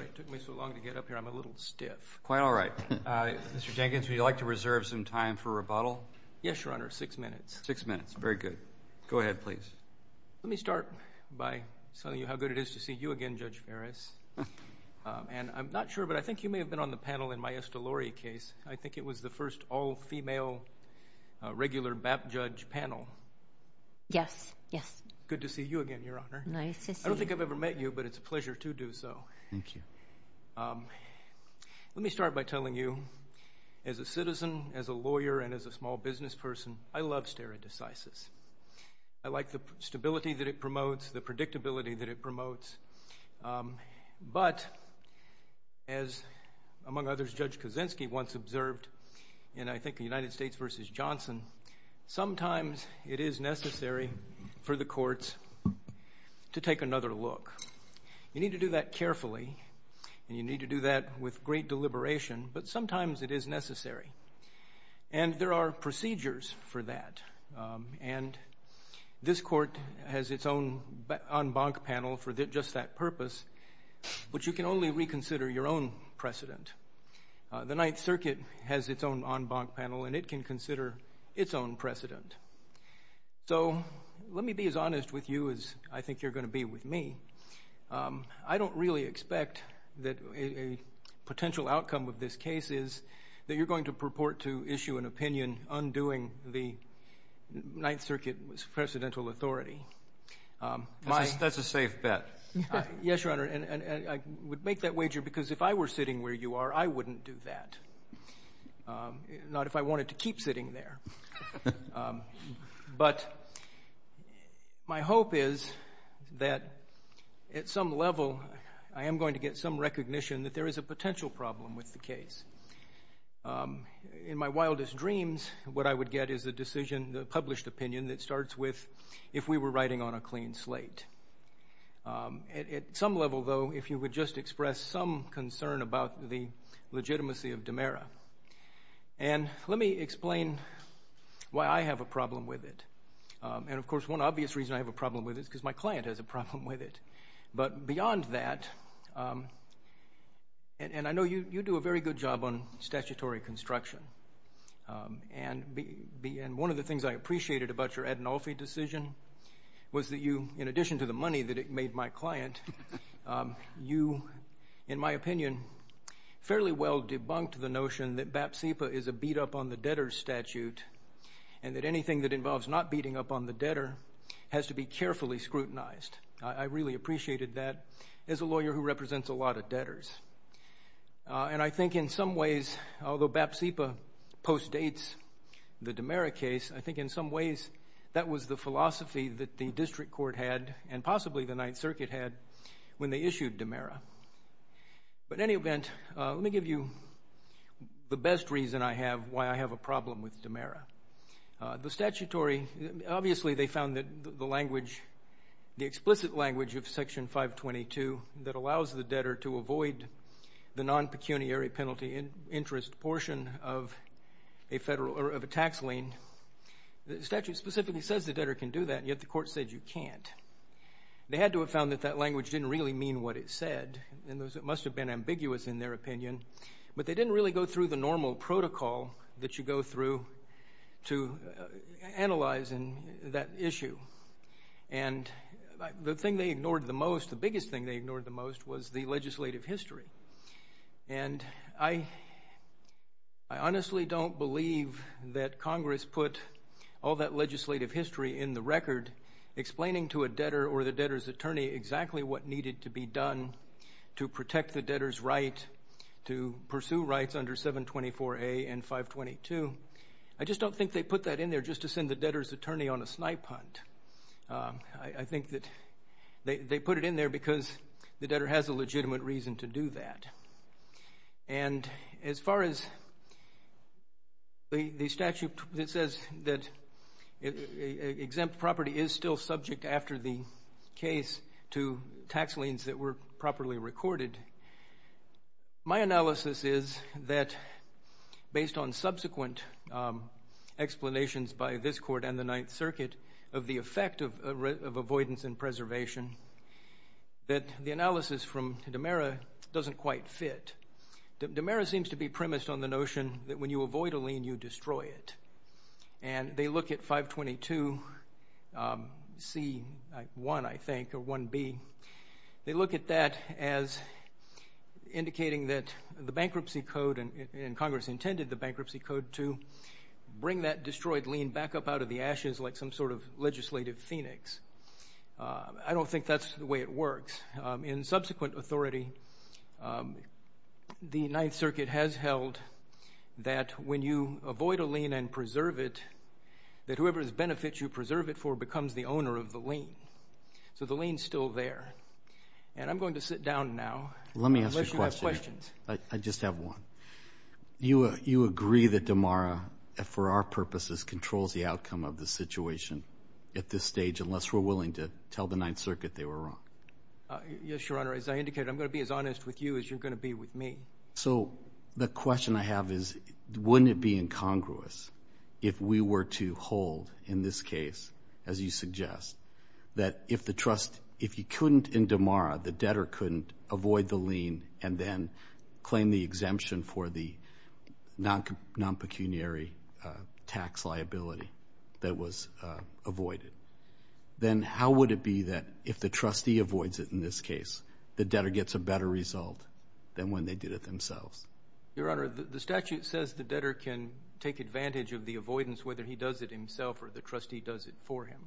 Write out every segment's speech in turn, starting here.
It took me so long to get up here. I'm a little stiff. Quite all right. Mr. Jenkins, would you like to reserve some time for rebuttal? Yes, Your Honor. Six minutes. Six minutes. Very good. Go ahead, please. Let me start by telling you how good it is to see you again, Judge Ferris. And I'm not sure, but I think you may have been on the panel in my Estalori case. I think it was the first all-female, regular BAP judge panel. Yes. Yes. Good to see you again, Your Honor. Nice to see you. I don't think I've ever met you, but it's a pleasure to do so. Thank you. Let me start by telling you, as a citizen, as a lawyer, and as a small business person, I love stare decisis. I like the stability that it promotes, the predictability that it promotes. But, as, among others, Judge Kaczynski once observed in, I think, United States v. Johnson, sometimes it is necessary for the courts to take another look. You need to do that carefully, and you need to do that with great deliberation, but sometimes it is necessary. And there are procedures for that. And this Court has its own en banc panel for just that purpose, but you can only reconsider your own precedent. The Ninth Circuit has its own en banc panel, and it can consider its own precedent. So let me be as honest with you as I think you're going to be with me. I don't really expect that a potential outcome of this case is that you're going to purport to issue an opinion undoing the Ninth Circuit's presidential authority. That's a safe bet. Yes, Your Honor, and I would make that wager because if I were sitting where you are, I wouldn't do that, not if I wanted to keep sitting there. But my hope is that at some level, I am going to get some recognition that there is a potential problem with the case. In my wildest dreams, what I would get is a decision, a published opinion that starts with if we were writing on a clean slate. At some level, though, if you would just express some concern about the legitimacy of DiMera. And let me explain why I have a problem with it. And of course, one obvious reason I have a problem with it is because my client has a problem with it. But beyond that, and I know you do a very good job on statutory construction, and one of the things I appreciated about your Ad Naufe decision was that you, in addition to the money that it made my client, you, in my opinion, fairly well debunked the notion that BAP-CIPA is a beat-up-on-the-debtor statute and that anything that involves not beating up on the debtor has to be carefully scrutinized. I really appreciated that as a lawyer who represents a lot of debtors. And I think in some ways, although BAP-CIPA postdates the DiMera case, I think in some when they issued DiMera. But in any event, let me give you the best reason I have why I have a problem with DiMera. Obviously, they found that the explicit language of Section 522 that allows the debtor to avoid the non-pecuniary penalty interest portion of a tax lien, the statute specifically says the debtor can do that, and yet the Court said you can't. They had to have found that that language didn't really mean what it said. And it must have been ambiguous in their opinion. But they didn't really go through the normal protocol that you go through to analyze that issue. And the thing they ignored the most, the biggest thing they ignored the most, was the legislative history. And I honestly don't believe that Congress put all that legislative history in the record explaining to a debtor or the debtor's attorney exactly what needed to be done to protect the debtor's right to pursue rights under 724A and 522. I just don't think they put that in there just to send the debtor's attorney on a snipe hunt. I think that they put it in there because the debtor has a legitimate reason to do that. And as far as the statute that says that exempt property is still subject after the case to tax liens that were properly recorded, my analysis is that based on subsequent explanations by this Court and the Ninth Circuit of the effect of avoidance and preservation, that the analysis from DiMera doesn't quite fit. DiMera seems to be premised on the notion that when you avoid a lien, you destroy it. And they look at 522C1, I think, or 1B. They look at that as indicating that the bankruptcy code, and Congress intended the bankruptcy code to bring that destroyed lien back up out of the ashes like some sort of legislative phoenix. I don't think that's the way it works. In subsequent authority, the Ninth Circuit has held that when you avoid a lien and preserve it, that whoever's benefit you preserve it for becomes the owner of the lien. So the lien's still there. And I'm going to sit down now. Let me ask you a question. Unless you have questions. I just have one. You agree that DiMera, for our purposes, controls the outcome of the situation at this stage, unless we're willing to tell the Ninth Circuit they were wrong? Yes, Your Honor. As I indicated, I'm going to be as honest with you as you're going to be with me. So the question I have is, wouldn't it be incongruous if we were to hold, in this case, as you suggest, that if the trust, if you couldn't, in DiMera, the debtor couldn't avoid the lien and then claim the exemption for the non-pecuniary tax liability that was avoided, then how would it be that if the trustee avoids it in this case, the debtor gets a better result than when they did it themselves? Your Honor, the statute says the debtor can take advantage of the avoidance whether he does it himself or the trustee does it for him.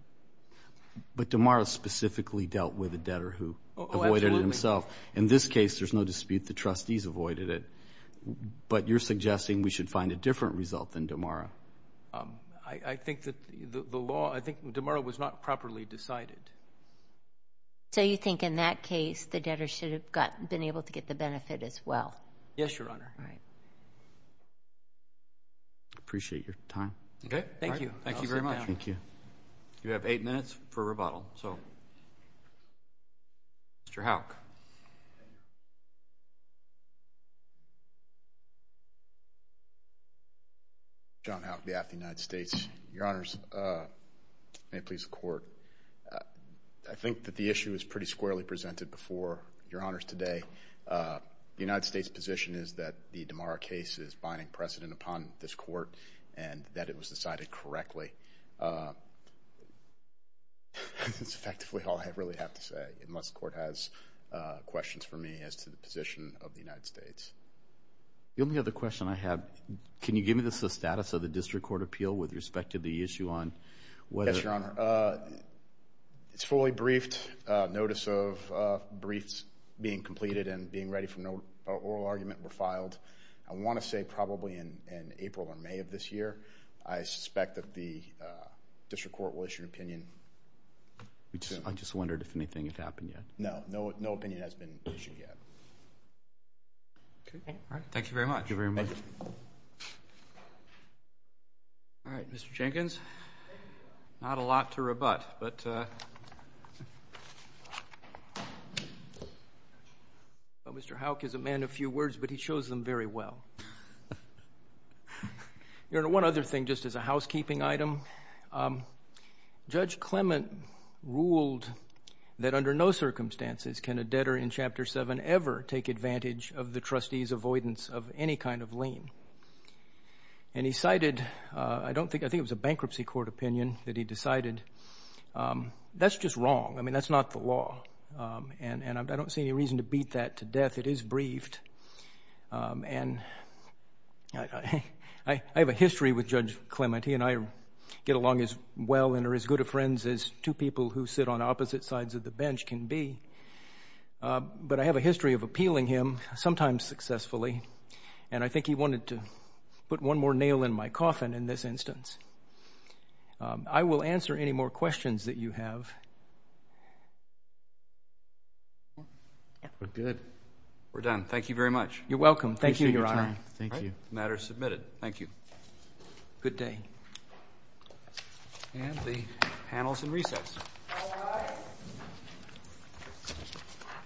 But DiMera specifically dealt with a debtor who avoided it himself. In this case, there's no dispute the trustees avoided it. But you're suggesting we should find a different result than DiMera. I think that the law, I think DiMera was not properly decided. So you think in that case, the debtor should have been able to get the benefit as well? Yes, Your Honor. Appreciate your time. Okay. Thank you. Thank you very much. You have eight minutes for rebuttal. Mr. Houck. John Houck, behalf of the United States. Your Honors, may it please the Court. I think that the issue was pretty squarely presented before Your Honors today. The United States position is that the DiMera case is binding precedent upon this Court and that it was decided correctly. That's effectively all I really have to say. Unless the Court has questions for me as to the position of the United States. The only other question I have, can you give me the status of the district court appeal with respect to the issue on whether... Yes, Your Honor. It's fully briefed. Notice of briefs being completed and being ready for an oral argument were filed. I want to say probably in April or May of this year. I suspect that the district court will issue an opinion. I just wondered if anything had happened yet. No. No opinion has been issued yet. Okay. All right. Thank you very much. Thank you very much. All right. Mr. Jenkins. Not a lot to rebut. But Mr. Houck is a man of few words, but he chose them very well. Your Honor, one other thing just as a housekeeping item. Judge Clement ruled that under no circumstances can a debtor in Chapter 7 ever take advantage of the trustee's avoidance of any kind of lien. And he cited, I don't think, I think it was a bankruptcy court opinion that he decided. That's just wrong. I mean, that's not the law. And I don't see any reason to beat that to death. It is briefed. And I have a history with Judge Clement. He and I get along as well and are as good of friends as two people who sit on opposite sides of the bench can be. But I have a history of appealing him, sometimes successfully. And I think he wanted to put one more nail in my coffin in this instance. I will answer any more questions that you have. Good. We're done. Thank you very much. You're welcome. Thank you, Your Honor. Thank you. Matter is submitted. Thank you. Good day. And the panel is in recess.